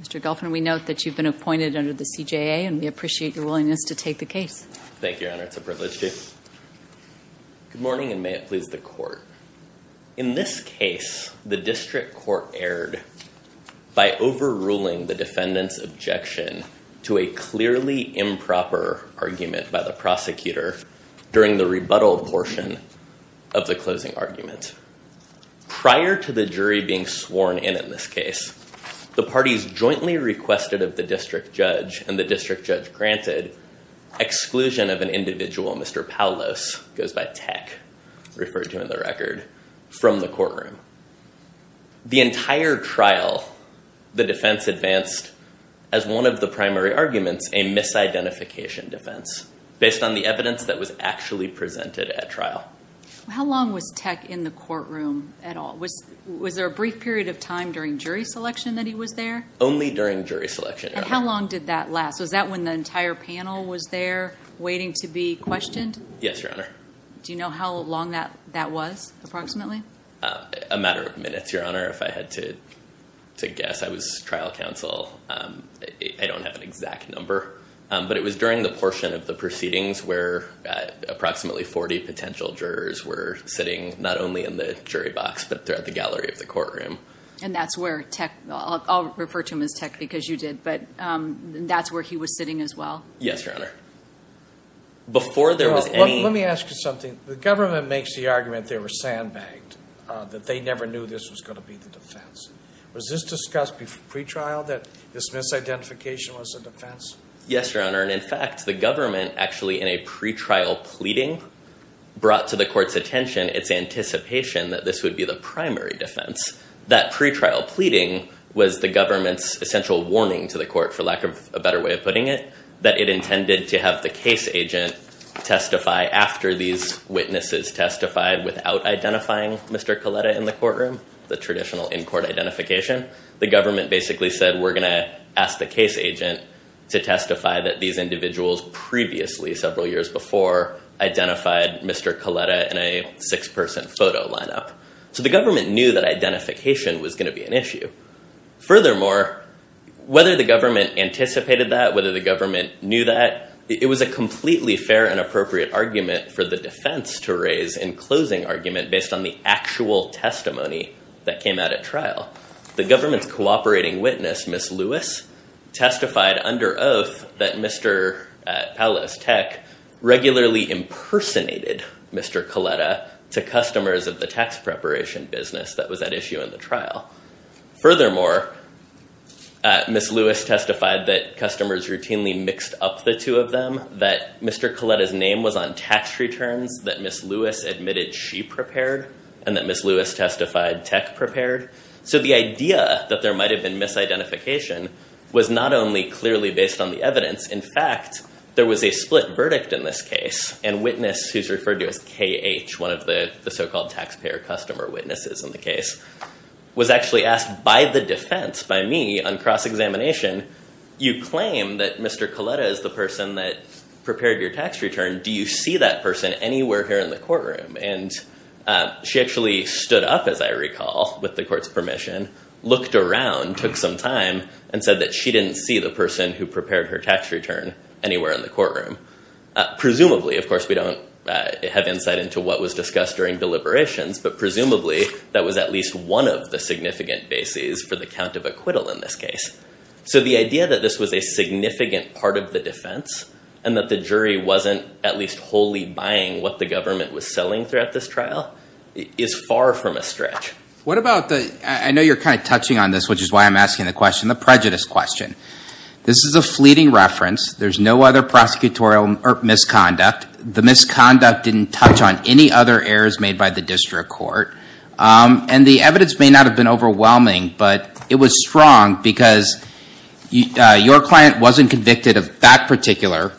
Mr. Goffman, we note that you've been appointed under the CJA and we appreciate your willingness to take the case. Thank you Honor, it's a privilege to Good morning, and may it please the court. In this case the district court erred By overruling the defendant's objection to a clearly improper Argument by the prosecutor during the rebuttal portion of the closing argument Prior to the jury being sworn in in this case, the parties jointly requested of the district judge and the district judge granted Exclusion of an individual, Mr. Paulos, goes by Tech Referred to in the record, from the courtroom The entire trial the defense advanced as one of the primary arguments a Misidentification defense based on the evidence that was actually presented at trial How long was Tech in the courtroom at all? Was was there a brief period of time during jury selection that he was there? Only during jury selection How long did that last? Was that when the entire panel was there waiting to be questioned? Yes, Your Honor. Do you know how long that that was approximately? A matter of minutes, Your Honor, if I had to To guess I was trial counsel I don't have an exact number, but it was during the portion of the proceedings where Approximately 40 potential jurors were sitting not only in the jury box, but throughout the gallery of the courtroom And that's where Tech, I'll refer to him as Tech because you did, but that's where he was sitting as well. Yes, Your Honor Before there was any... Let me ask you something. The government makes the argument they were sandbagged That they never knew this was going to be the defense. Was this discussed before pre-trial that this misidentification was a defense? Yes, Your Honor, and in fact the government actually in a pre-trial pleading Brought to the court's attention its anticipation that this would be the primary defense. That pre-trial pleading Was the government's essential warning to the court, for lack of a better way of putting it, that it intended to have the case agent Testify after these witnesses testified without identifying Mr. Coletta in the courtroom, the traditional in-court identification The government basically said we're going to ask the case agent to testify that these individuals previously several years before Identified Mr. Coletta in a six-person photo lineup. So the government knew that identification was going to be an issue furthermore Whether the government anticipated that, whether the government knew that, it was a completely fair and appropriate Argument for the defense to raise in closing argument based on the actual testimony that came out at trial The government's cooperating witness, Ms. Lewis Testified under oath that Mr. Palos Tech Regularly impersonated Mr. Coletta to customers of the tax preparation business that was at issue in the trial furthermore Ms. Lewis testified that customers routinely mixed up the two of them, that Mr. Coletta's name was on tax returns, that Ms. Lewis testified Tech prepared. So the idea that there might have been Misidentification was not only clearly based on the evidence In fact, there was a split verdict in this case and witness who's referred to as KH One of the the so-called taxpayer customer witnesses in the case Was actually asked by the defense by me on cross-examination You claim that Mr. Coletta is the person that prepared your tax return. Do you see that person anywhere here in the courtroom? And She actually stood up as I recall with the court's permission Looked around took some time and said that she didn't see the person who prepared her tax return anywhere in the courtroom Presumably, of course, we don't have insight into what was discussed during deliberations But presumably that was at least one of the significant bases for the count of acquittal in this case So the idea that this was a significant part of the defense and that the jury wasn't at least wholly buying what the government was Selling throughout this trial is far from a stretch. What about the I know you're kind of touching on this Which is why I'm asking the question the prejudice question. This is a fleeting reference There's no other prosecutorial or misconduct. The misconduct didn't touch on any other errors made by the district court and the evidence may not have been overwhelming, but it was strong because Your client wasn't convicted of that particular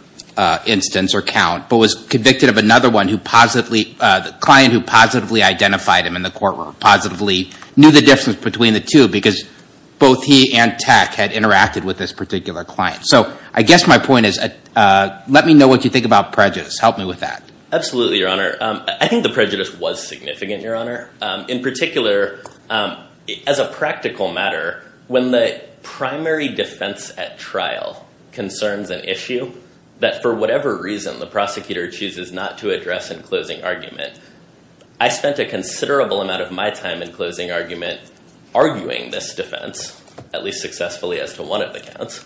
Instance or count but was convicted of another one who positively the client who positively identified him in the courtroom positively knew the difference between the two because Both he and tech had interacted with this particular client. So I guess my point is Let me know what you think about prejudice. Help me with that. Absolutely your honor. I think the prejudice was significant your honor in particular as a practical matter when the primary defense at trial Concerns an issue that for whatever reason the prosecutor chooses not to address in closing argument I spent a considerable amount of my time in closing argument arguing this defense at least successfully as to one of the counts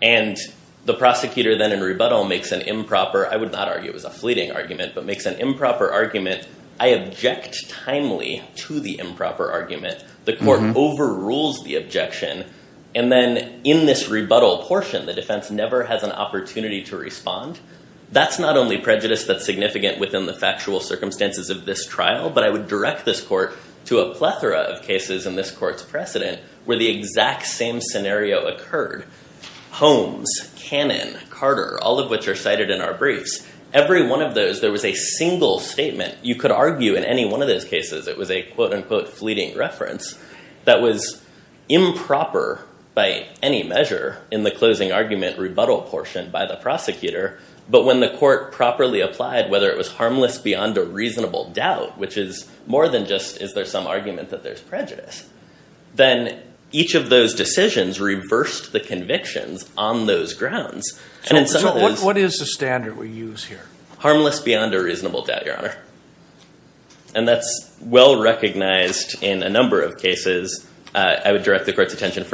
and The prosecutor then in rebuttal makes an improper. I would not argue as a fleeting argument, but makes an improper argument I object timely to the improper argument the court overrules the objection and In this rebuttal portion the defense never has an opportunity to respond that's not only prejudice That's significant within the factual circumstances of this trial But I would direct this court to a plethora of cases in this court's precedent where the exact same scenario occurred Holmes Cannon Carter all of which are cited in our briefs every one of those there was a single statement You could argue in any one of those cases. It was a quote-unquote fleeting reference. That was Improper by any measure in the closing argument rebuttal portion by the prosecutor But when the court properly applied whether it was harmless beyond a reasonable doubt Which is more than just is there some argument that there's prejudice Then each of those decisions reversed the convictions on those grounds and so what is the standard we use here? harmless beyond a reasonable doubt your honor and For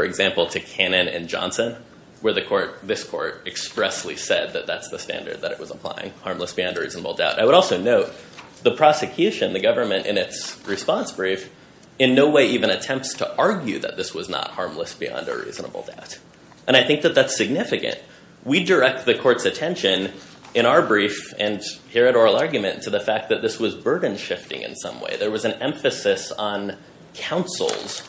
example to cannon and Johnson where the court this court Expressly said that that's the standard that it was applying harmless beyond a reasonable doubt I would also note the prosecution the government in its response brief in no way even attempts to argue that this was not harmless beyond A reasonable doubt and I think that that's significant We direct the court's attention in our brief and here at oral argument to the fact that this was burden shifting in some way There was an emphasis on counsel's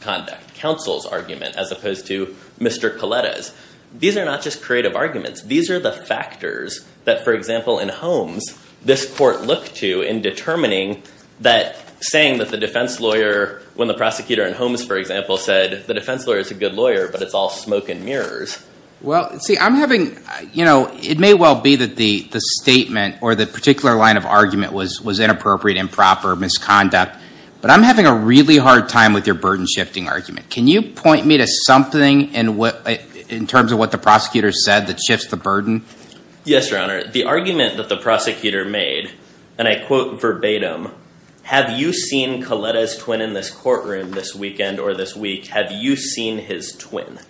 Conduct counsel's argument as opposed to mr. Coletta's. These are not just creative arguments These are the factors that for example in Holmes this court looked to in determining that Saying that the defense lawyer when the prosecutor in Holmes, for example said the defense lawyer is a good lawyer But it's all smoke and mirrors Well, see I'm having you know It may well be that the the statement or the particular line of argument was was inappropriate improper misconduct But I'm having a really hard time with your burden shifting argument Can you point me to something and what in terms of what the prosecutor said that shifts the burden? Yes, your honor the argument that the prosecutor made and I quote verbatim Have you seen Coletta's twin in this courtroom this weekend or this week? Have you seen his twin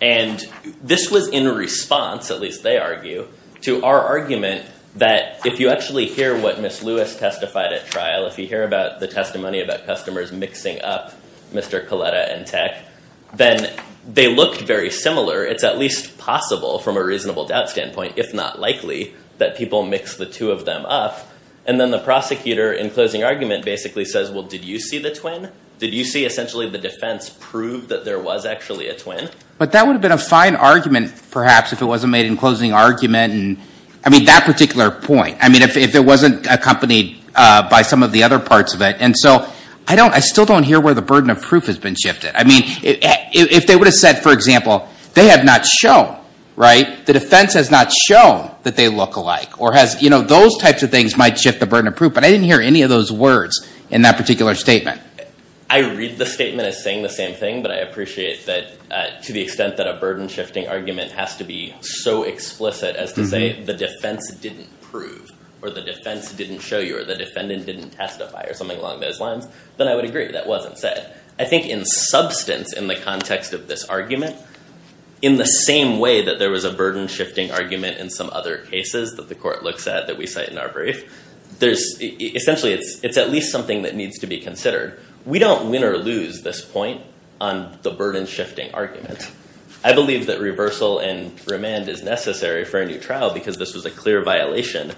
and This was in response at least they argue to our argument that if you actually hear what miss Lewis Testified at trial if you hear about the testimony about customers mixing up. Mr. Coletta and tech then they looked very similar It's at least possible from a reasonable doubt standpoint If not likely that people mix the two of them up and then the prosecutor in closing argument basically says well Did you see the twin did you see essentially the defense proved that there was actually a twin? But that would have been a fine argument perhaps if it wasn't made in closing argument And I mean that particular point I mean if it wasn't accompanied by some of the other parts of it And so I don't I still don't hear where the burden of proof has been shifted I mean if they would have said for example They have not shown right the defense has not shown that they look alike or has you know Those types of things might shift the burden of proof, but I didn't hear any of those words in that particular statement I read the statement as saying the same thing But I appreciate that to the extent that a burden shifting argument has to be so explicit as to say the defense Didn't prove or the defense didn't show you or the defendant didn't testify or something along those lines Then I would agree that wasn't said I think in substance in the context of this argument In the same way that there was a burden shifting argument in some other cases that the court looks at that we cite in our brief There's essentially it's it's at least something that needs to be considered We don't win or lose this point on the burden shifting argument I believe that reversal and remand is necessary for a new trial because this was a clear violation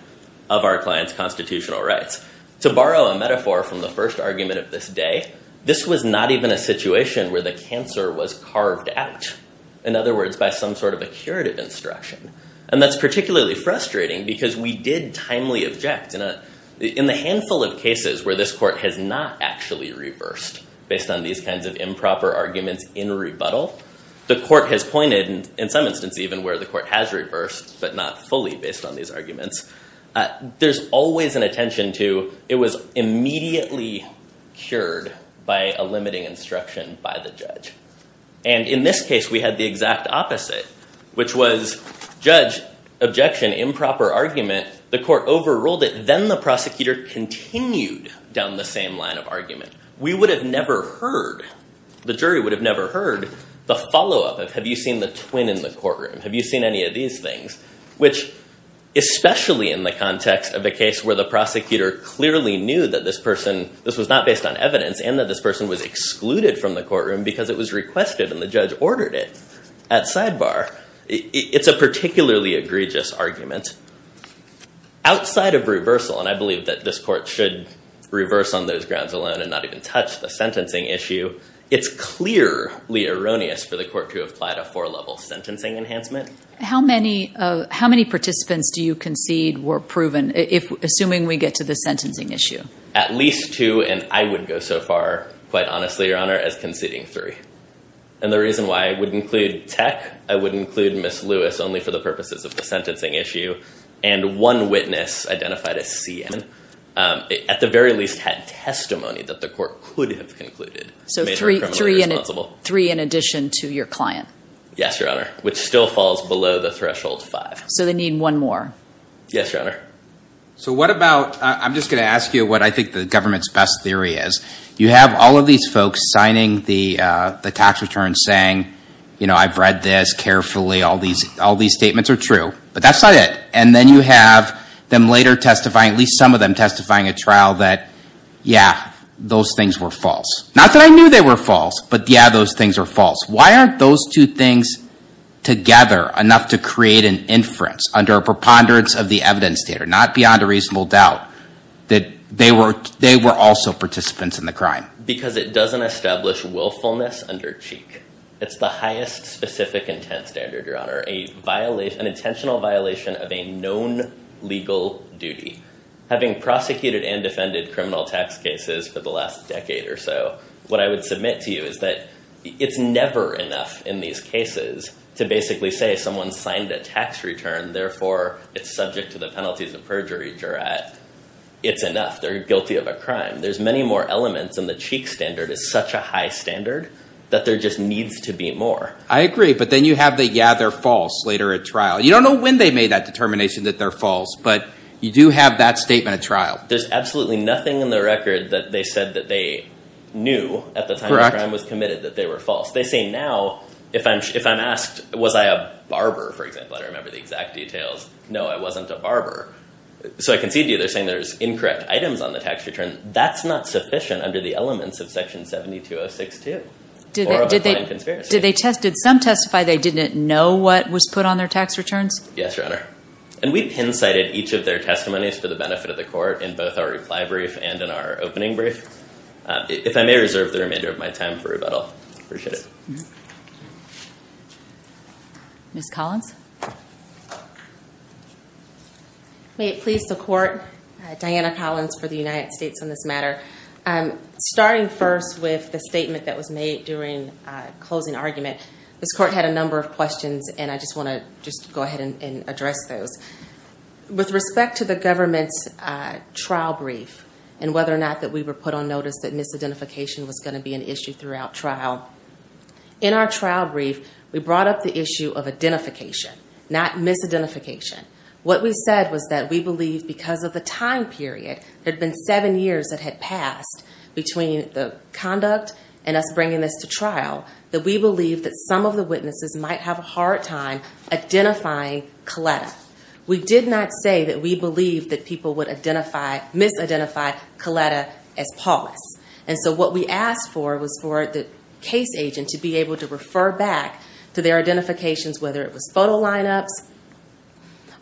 of our clients constitutional rights To borrow a metaphor from the first argument of this day This was not even a situation where the cancer was carved out in other words by some sort of a curative instruction And that's particularly frustrating because we did timely object in a in the handful of cases where this court has not Actually reversed based on these kinds of improper arguments in rebuttal The court has pointed and in some instance even where the court has reversed but not fully based on these arguments There's always an attention to it was immediately Cured by a limiting instruction by the judge and in this case. We had the exact opposite which was judge objection improper argument the court overruled it then the prosecutor Continued down the same line of argument we would have never heard The jury would have never heard the follow-up of have you seen the twin in the courtroom? Have you seen any of these things which? Especially in the context of the case where the prosecutor clearly knew that this person this was not based on evidence and that this person Was excluded from the courtroom because it was requested and the judge ordered it at sidebar It's a particularly egregious argument Outside of reversal and I believe that this court should reverse on those grounds alone and not even touch the sentencing issue It's clearly erroneous for the court to apply to a four level sentencing enhancement How many how many participants do you concede were proven if assuming we get to the sentencing issue? At least two and I would go so far quite honestly your honor as conceding three and the reason why I would include tech I would include miss Lewis only for the purposes of the sentencing issue and one witness identified as CNN At the very least had testimony that the court would have concluded So three three in three in addition to your client. Yes, your honor, which still falls below the threshold five So they need one more. Yes, your honor So what about I'm just gonna ask you what I think the government's best theory is you have all of these folks signing the The tax return saying, you know, I've read this carefully all these all these statements are true But that's not it. And then you have them later testifying at least some of them testifying a trial that Yeah, those things were false. Not that I knew they were false. But yeah, those things are false. Why aren't those two things? Together enough to create an inference under a preponderance of the evidence data not beyond a reasonable doubt That they were they were also participants in the crime because it doesn't establish willfulness under cheek It's the highest specific intent standard your honor a violate an intentional violation of a known Legal duty having prosecuted and defended criminal tax cases for the last decade or so What I would submit to you is that it's never enough in these cases to basically say someone signed a tax return Therefore it's subject to the penalties of perjury juror at it's enough. They're guilty of a crime There's many more elements and the cheek standard is such a high standard that there just needs to be more I agree But then you have the yeah, they're false later at trial You don't know when they made that determination that they're false, but you do have that statement of trial There's absolutely nothing in the record that they said that they knew at the time I was committed that they were false. They say now if I'm if I'm asked was I a barber for example I remember the exact details. No, I wasn't a barber So I concede you they're saying there's incorrect items on the tax return that's not sufficient under the elements of section 7206 to Did they tested some testify they didn't know what was put on their tax returns Yes, your honor And we've incited each of their testimonies for the benefit of the court in both our reply brief and in our opening brief If I may reserve the remainder of my time for rebuttal Miss Collins Please the court Diana Collins for the United States on this matter. I'm Starting first with the statement that was made during Closing argument this court had a number of questions and I just want to just go ahead and address those with respect to the government's Trial brief and whether or not that we were put on notice that misidentification was going to be an issue throughout trial In our trial brief, we brought up the issue of identification not Misidentification what we said was that we believe because of the time period had been seven years that had passed Between the conduct and us bringing this to trial that we believe that some of the witnesses might have a hard time Identifying Coletta. We did not say that. We believe that people would identify Misidentify Coletta as Paulus And so what we asked for was for the case agent to be able to refer back to their identifications whether it was photo lineups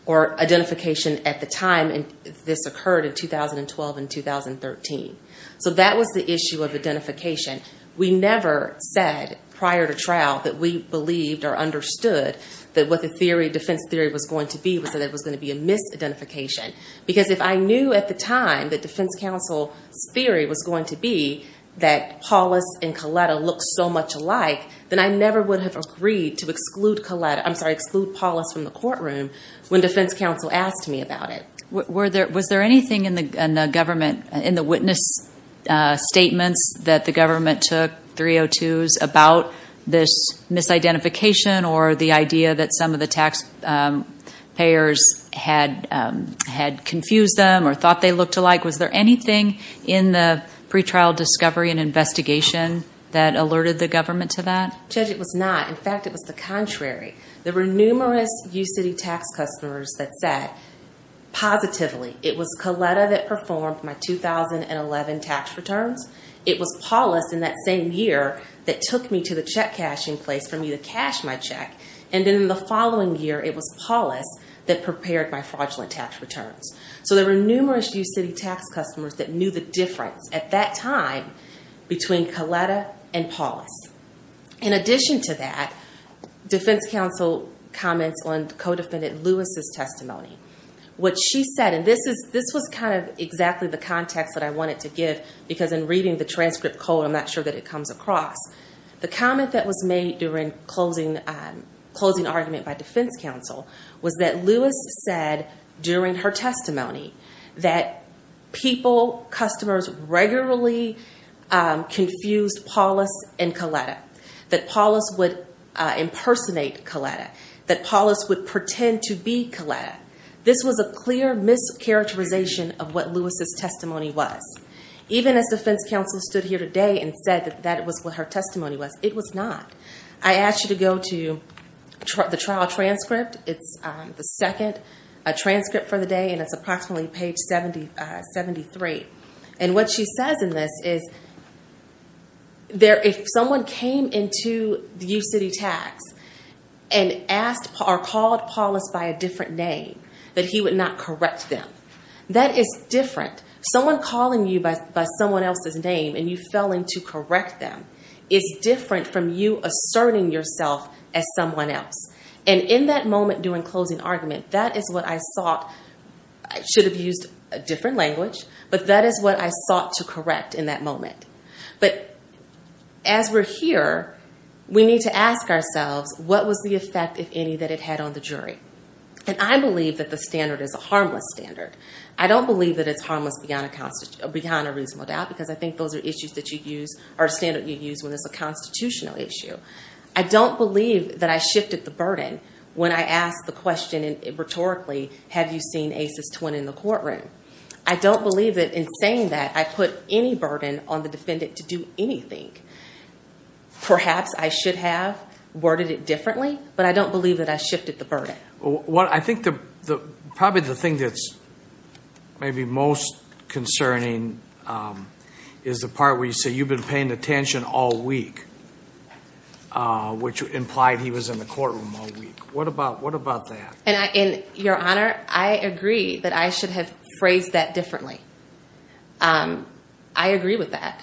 Or identification at the time and this occurred in 2012 and 2013 So that was the issue of identification We never said prior to trial that we believed or understood That what the theory defense theory was going to be was that it was going to be a misidentification because if I knew at the time that defense counsel's theory was going to be that Paulus and Coletta look so much alike then I never would have agreed to exclude Coletta I'm sorry exclude Paulus from the courtroom when defense counsel asked me about it Were there was there anything in the government in the witness? Statements that the government took 302s about this Misidentification or the idea that some of the tax? payers had Had confused them or thought they looked alike. Was there anything in the pretrial discovery and investigation that Alerted the government to that judge. It was not. In fact, it was the contrary. There were numerous you city tax customers that said Positively, it was Coletta that performed my 2011 tax returns It was Paulus in that same year that took me to the check cashing place for me to cash my check and in the following Year, it was Paulus that prepared my fraudulent tax returns So there were numerous you city tax customers that knew the difference at that time Between Coletta and Paulus in addition to that defense counsel comments on co-defendant Lewis's testimony What she said and this is this was kind of exactly the context that I wanted to give because in reading the transcript code I'm not sure that it comes across the comment that was made during closing closing argument by defense counsel was that Lewis said during her testimony that people customers regularly Confused Paulus and Coletta that Paulus would Impersonate Coletta that Paulus would pretend to be Coletta. This was a clear mischaracterization of what Lewis's testimony was Even as defense counsel stood here today and said that that was what her testimony was. It was not I asked you to go to The trial transcript. It's the second a transcript for the day and it's approximately page 773 and what she says in this is there if someone came into the you city tax and Asked are called Paulus by a different name that he would not correct them That is different someone calling you by someone else's name and you fell in to correct them It's different from you asserting yourself as someone else and in that moment during closing argument. That is what I thought Should have used a different language, but that is what I sought to correct in that moment, but as we're here We need to ask ourselves What was the effect if any that it had on the jury and I believe that the standard is a harmless standard I don't believe that it's harmless beyond a constant beyond a reasonable doubt because I think those are issues that you use our standard You use when it's a constitutional issue I don't believe that I shifted the burden when I asked the question and rhetorically Have you seen aces twin in the courtroom? I don't believe it in saying that I put any burden on the defendant to do anything Perhaps I should have worded it differently, but I don't believe that I shifted the burden Well, I think the the probably the thing that's maybe most Concerning is the part where you say you've been paying attention all week Which implied he was in the courtroom all week, what about what about that and I in your honor I agree that I should have phrased that differently I agree with that.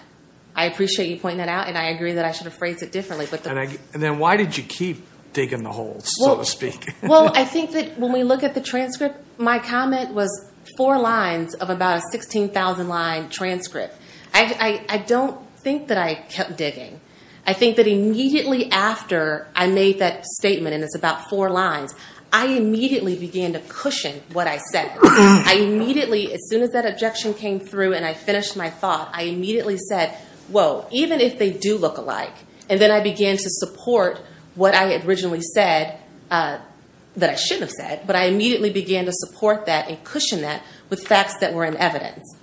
I appreciate you pointing that out and I agree that I should have phrased it differently But then I and then why did you keep digging the hole so to speak? Well, I think that when we look at the transcript, my comment was four lines of about a 16,000 line transcript I I don't think that I kept digging I think that immediately after I made that statement and it's about four lines. I Immediately began to cushion what I said I immediately as soon as that objection came through and I finished my thought I immediately said whoa Even if they do look alike and then I began to support what I had originally said That I should have said but I immediately began to support that and cushion that with facts that were in evidence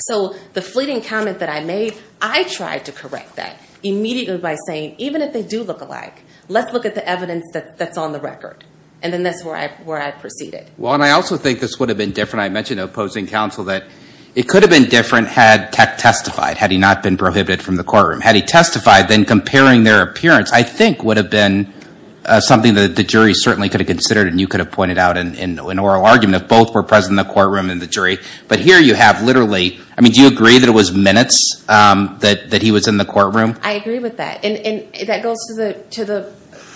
So the fleeting comment that I made I tried to correct that Immediately by saying even if they do look alike Let's look at the evidence that that's on the record and then that's where I where I proceeded Well, and I also think this would have been different I mentioned opposing counsel that it could have been different had Testified had he not been prohibited from the courtroom had he testified then comparing their appearance. I think would have been Something that the jury certainly could have considered and you could have pointed out and in an oral argument if both were present in the Literally, I mean do you agree that it was minutes that that he was in the courtroom? I agree with that and that goes to the to the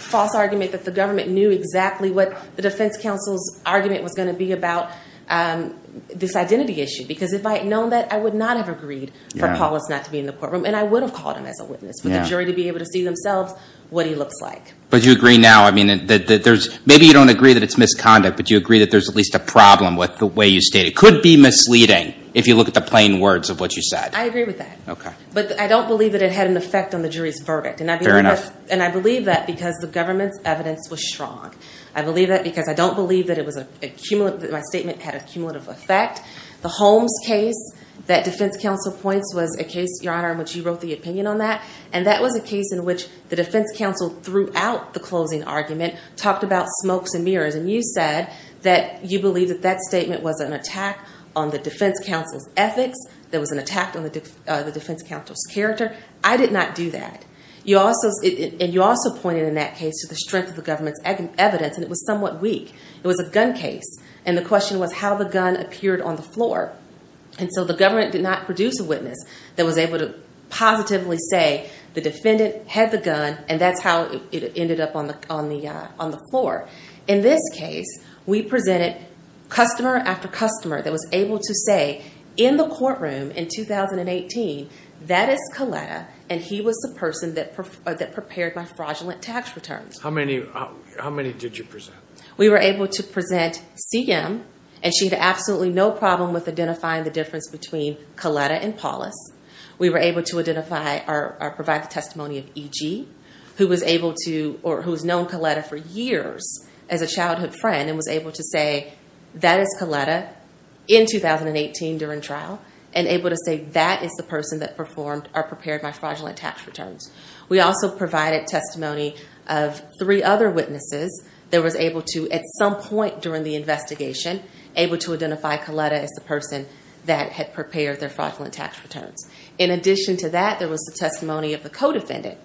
False argument that the government knew exactly what the defense counsel's argument was going to be about this identity issue because if I had known that I would not have agreed for Paulus not to be in the courtroom and I would have called him as a witness for the jury to be able to see Themselves what he looks like but you agree now, I mean that there's maybe you don't agree that it's misconduct But you agree that there's at least a problem with the way you state It could be misleading if you look at the plain words of what you said I agree with that Okay But I don't believe that it had an effect on the jury's verdict and I'm fair enough and I believe that because the government's evidence Was strong I believe that because I don't believe that it was a cumulative my statement had a cumulative effect the Holmes case That defense counsel points was a case your honor in which you wrote the opinion on that and that was a case in which the Defense counsel threw out the closing argument talked about smokes and mirrors and you said that you believe that that statement was an attack On the defense counsel's ethics. There was an attack on the defense counsel's character I did not do that You also and you also pointed in that case to the strength of the government's egg and evidence and it was somewhat weak It was a gun case and the question was how the gun appeared on the floor and so the government did not produce a witness that was able to Positively say the defendant had the gun and that's how it ended up on the on the on the floor in this case We presented Customer after customer that was able to say in the courtroom in 2018 that is Coletta and he was the person that That prepared my fraudulent tax returns how many how many did you present? We were able to present CM and she had absolutely no problem with identifying the difference between Coletta and Paulus We were able to identify our provide the testimony of EG Who was able to or who's known Coletta for years as a childhood friend and was able to say that is Coletta In 2018 during trial and able to say that is the person that performed are prepared by fraudulent tax returns We also provided testimony of three other witnesses There was able to at some point during the investigation Able to identify Coletta as the person that had prepared their fraudulent tax returns in addition to that There was the testimony of the co-defendant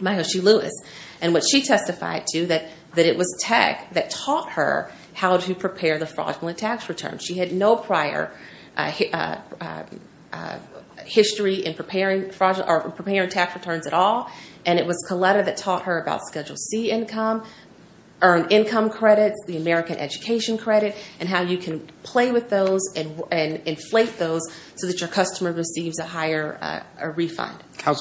Mahoshi Lewis and what she testified to that that it was tech that taught her how to prepare the fraudulent tax return She had no prior History in preparing fraudulent tax returns at all and it was Coletta that taught her about Schedule C income earned income credits the American education credit and how you can play with those and I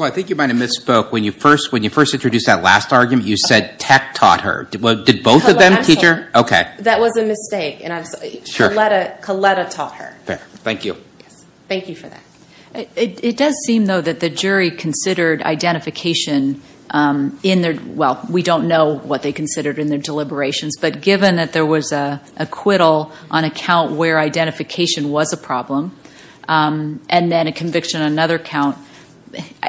think you might have misspoke when you first when you first introduced that last argument You said tech taught her did both of them teacher. Okay, that was a mistake and I'm sure let it Coletta taught her Thank you. Thank you for that. It does seem though that the jury considered identification In there. Well, we don't know what they considered in their deliberations But given that there was a acquittal on account where identification was a problem And then a conviction on another count,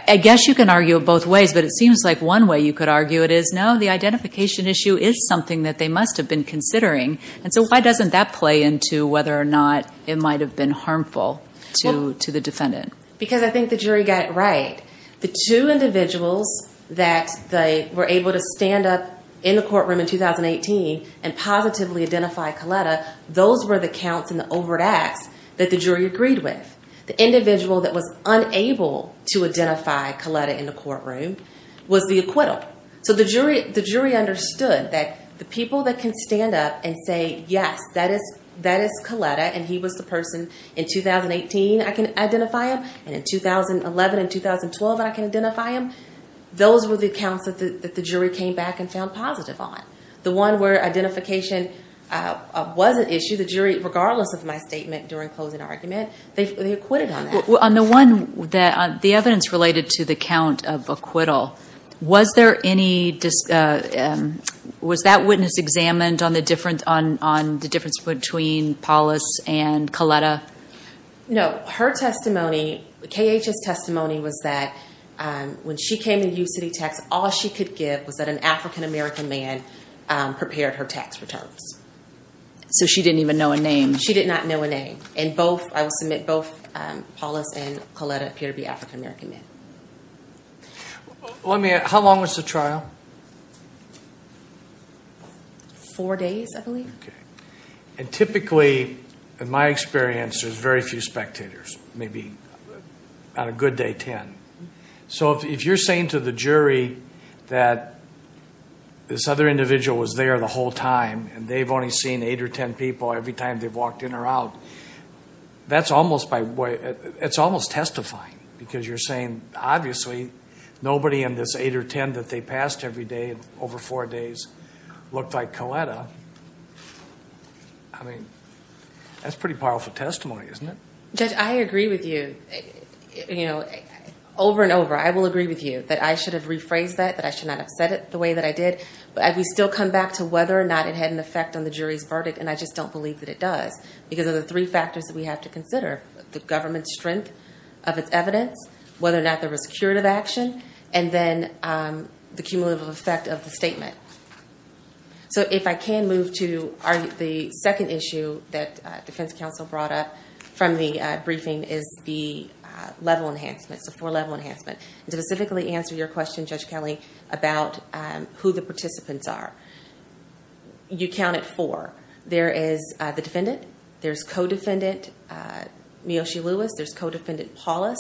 I guess you can argue of both ways But it seems like one way you could argue it is no the identification issue is something that they must have been considering And so why doesn't that play into whether or not it might have been harmful to to the defendant because I think the jury got right the two individuals that they were able to stand up in the courtroom in 2018 and Those were the counts and the overt acts that the jury agreed with the individual that was unable to identify Coletta in the courtroom was the acquittal So the jury the jury understood that the people that can stand up and say yes That is that is Coletta and he was the person in 2018 I can identify him and in 2011 and 2012 and I can identify him Those were the accounts that the jury came back and found positive on the one where identification Was an issue the jury regardless of my statement during closing argument They acquitted on that. Well on the one that the evidence related to the count of acquittal. Was there any Was that witness examined on the difference on on the difference between Paulus and Coletta No, her testimony KHS testimony was that When she came to you city tax, all she could give was that an african-american man Prepared her tax returns So she didn't even know a name. She did not know a name and both I will submit both Paulus and Coletta appear to be african-american men Let me how long was the trial Four days, I believe and typically in my experience there's very few spectators maybe Not a good day ten. So if you're saying to the jury that This other individual was there the whole time and they've only seen eight or ten people every time they've walked in or out That's almost by way. It's almost testifying because you're saying obviously Nobody in this eight or ten that they passed every day over four days looked like Coletta I Mean that's pretty powerful testimony, isn't it? Judge? I agree with you You know Over and over I will agree with you that I should have rephrased that that I should not have said it the way that I Did but as we still come back to whether or not it had an effect on the jury's verdict And I just don't believe that it does because of the three factors that we have to consider the government strength of its evidence whether or not there was curative action and then the cumulative effect of the statement so if I can move to our the second issue that Defense Counsel brought up from the briefing is the Level enhancements the four level enhancement to specifically answer your question Judge Kelly about who the participants are You count it for there is the defendant. There's co-defendant Miyoshi Lewis, there's co-defendant Paulus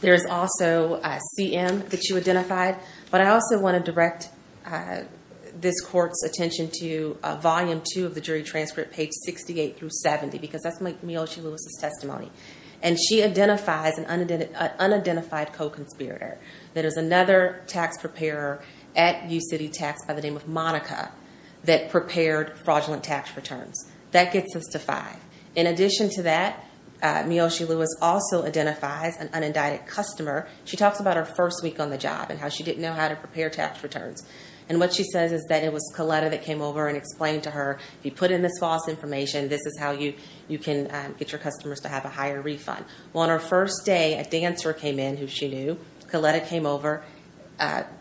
There is also a CM that you identified, but I also want to direct this court's attention to Volume two of the jury transcript page 68 through 70 because that's my Miyoshi Lewis's testimony and she identifies an Unidentified co-conspirator that is another tax preparer at U City Tax by the name of Monica That prepared fraudulent tax returns that gets us to five in addition to that Miyoshi Lewis also identifies an unindicted customer She talks about her first week on the job and how she didn't know how to prepare tax returns And what she says is that it was Coletta that came over and explained to her if you put in this false information This is how you you can get your customers to have a higher refund Well on her first day a dancer came in who she knew Coletta came over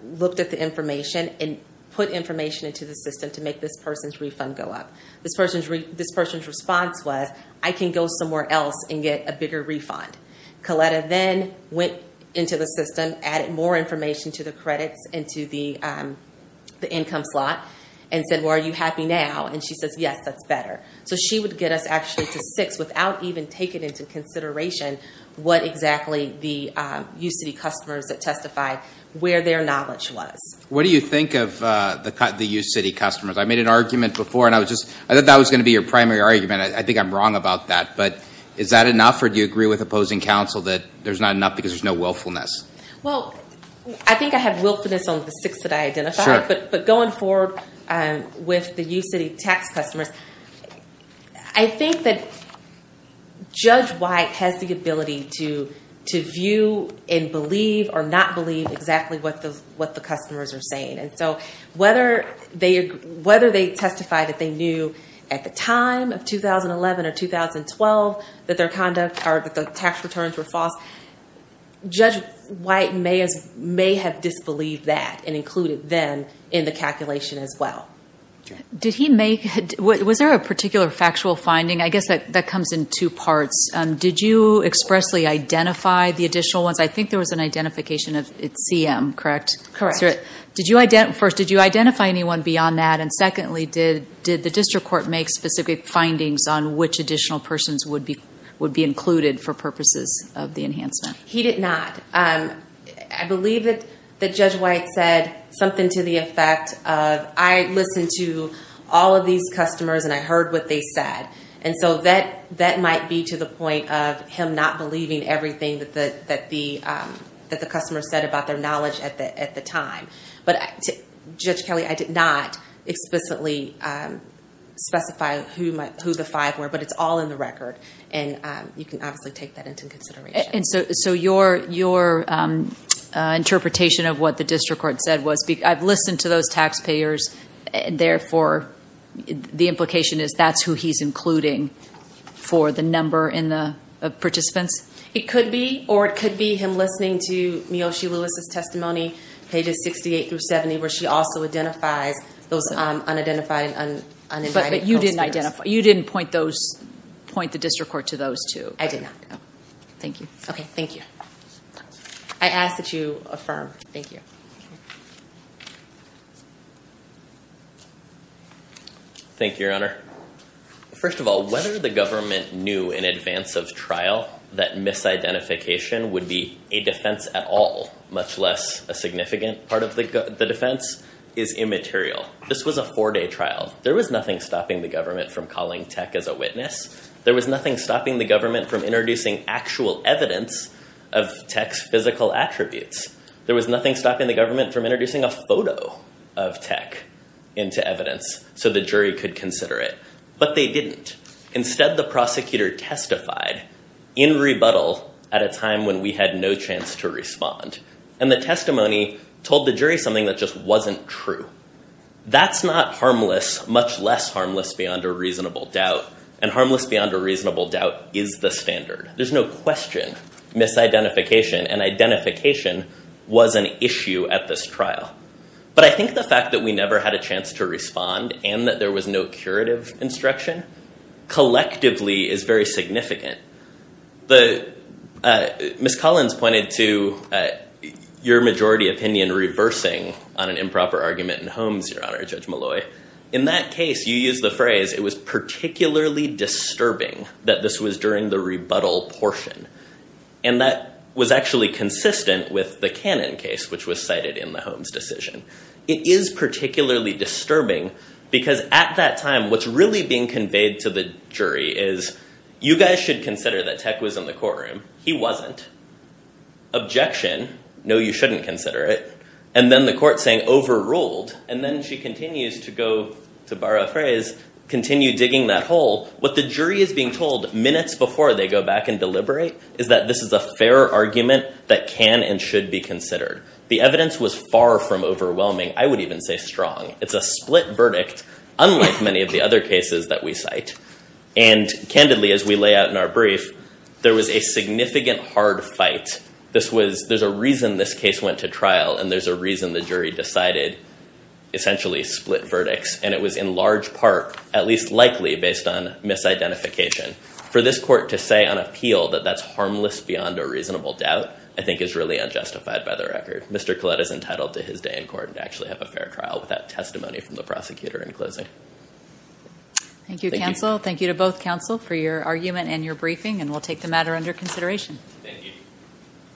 Looked at the information and put information into the system to make this person's refund go up This person's response was I can go somewhere else and get a bigger refund Coletta then went into the system added more information to the credits and to the Income slot and said why are you happy now? And she says yes, that's better so she would get us actually to six without even taking into consideration what exactly the UCD customers that testified where their knowledge was. What do you think of the cut the UCD customers? I made an argument before and I was just I thought that was gonna be your primary argument I think I'm wrong about that But is that enough or do you agree with opposing counsel that there's not enough because there's no willfulness Well, I think I have willfulness on the six that I identified but but going forward and with the you city tax customers I think that Judge why it has the ability to To view and believe or not believe exactly what the what the customers are saying and so whether they whether they testify that they knew at the time of 2011 or 2012 that their conduct are that the tax returns were false Judge white may as may have disbelieved that and included them in the calculation as well Did he make what was there a particular factual finding? I guess that that comes in two parts Did you expressly identify the additional ones? I think there was an identification of its EM, correct? Correct, sir. Did you identify first? Did you identify anyone beyond that and secondly did did the district court make specific findings on which additional? Persons would be would be included for purposes of the enhancement. He did not and I believe that the judge white said something to the effect of I Listened to all of these customers and I heard what they said and so that that might be to the point of him not believing everything that the that the That the customer said about their knowledge at the at the time, but I took judge Kelly. I did not explicitly Specify who might who the five were but it's all in the record and you can obviously take that into consideration and so so your your Interpretation of what the district court said was because I've listened to those taxpayers therefore The implication is that's who he's including for the number in the Participants it could be or it could be him listening to Miyoshi Melissa's testimony pages 68 through 70 where she also identifies those Unidentified and but you didn't identify you didn't point those Point the district court to those two. I did not know. Thank you. Okay. Thank you. I Asked that you affirm. Thank you Thank Your Honor First of all, whether the government knew in advance of trial that Misidentification would be a defense at all much less a significant part of the defense is Immaterial. This was a four-day trial. There was nothing stopping the government from calling tech as a witness There was nothing stopping the government from introducing actual evidence of text physical attributes There was nothing stopping the government from introducing a photo of tech into evidence So the jury could consider it but they didn't instead the prosecutor Testified in Rebuttal at a time when we had no chance to respond and the testimony told the jury something that just wasn't true That's not harmless much less harmless beyond a reasonable doubt and harmless beyond a reasonable doubt is the standard. There's no question Misidentification and identification was an issue at this trial But I think the fact that we never had a chance to respond and that there was no curative instruction Collectively is very significant the Miss Collins pointed to Your majority opinion reversing on an improper argument in Holmes, Your Honor Judge Molloy in that case you use the phrase it was particularly disturbing that this was during the rebuttal portion and That was actually consistent with the cannon case, which was cited in the Holmes decision It is particularly disturbing because at that time what's really being conveyed to the jury is You guys should consider that tech was in the courtroom. He wasn't Objection. No, you shouldn't consider it and then the court saying overruled and then she continues to go to borrow a phrase Continue digging that hole what the jury is being told minutes before they go back and deliberate is that this is a fair argument That can and should be considered. The evidence was far from overwhelming. I would even say strong it's a split verdict unlike many of the other cases that we cite and Candidly as we lay out in our brief, there was a significant hard fight This was there's a reason this case went to trial and there's a reason the jury decided Essentially split verdicts and it was in large part at least likely based on Misidentification for this court to say on appeal that that's harmless beyond a reasonable doubt I think is really unjustified by the record Mr. Collette is entitled to his day in court and actually have a fair trial with that testimony from the prosecutor in closing Thank you counsel. Thank you to both counsel for your argument and your briefing and we'll take the matter under consideration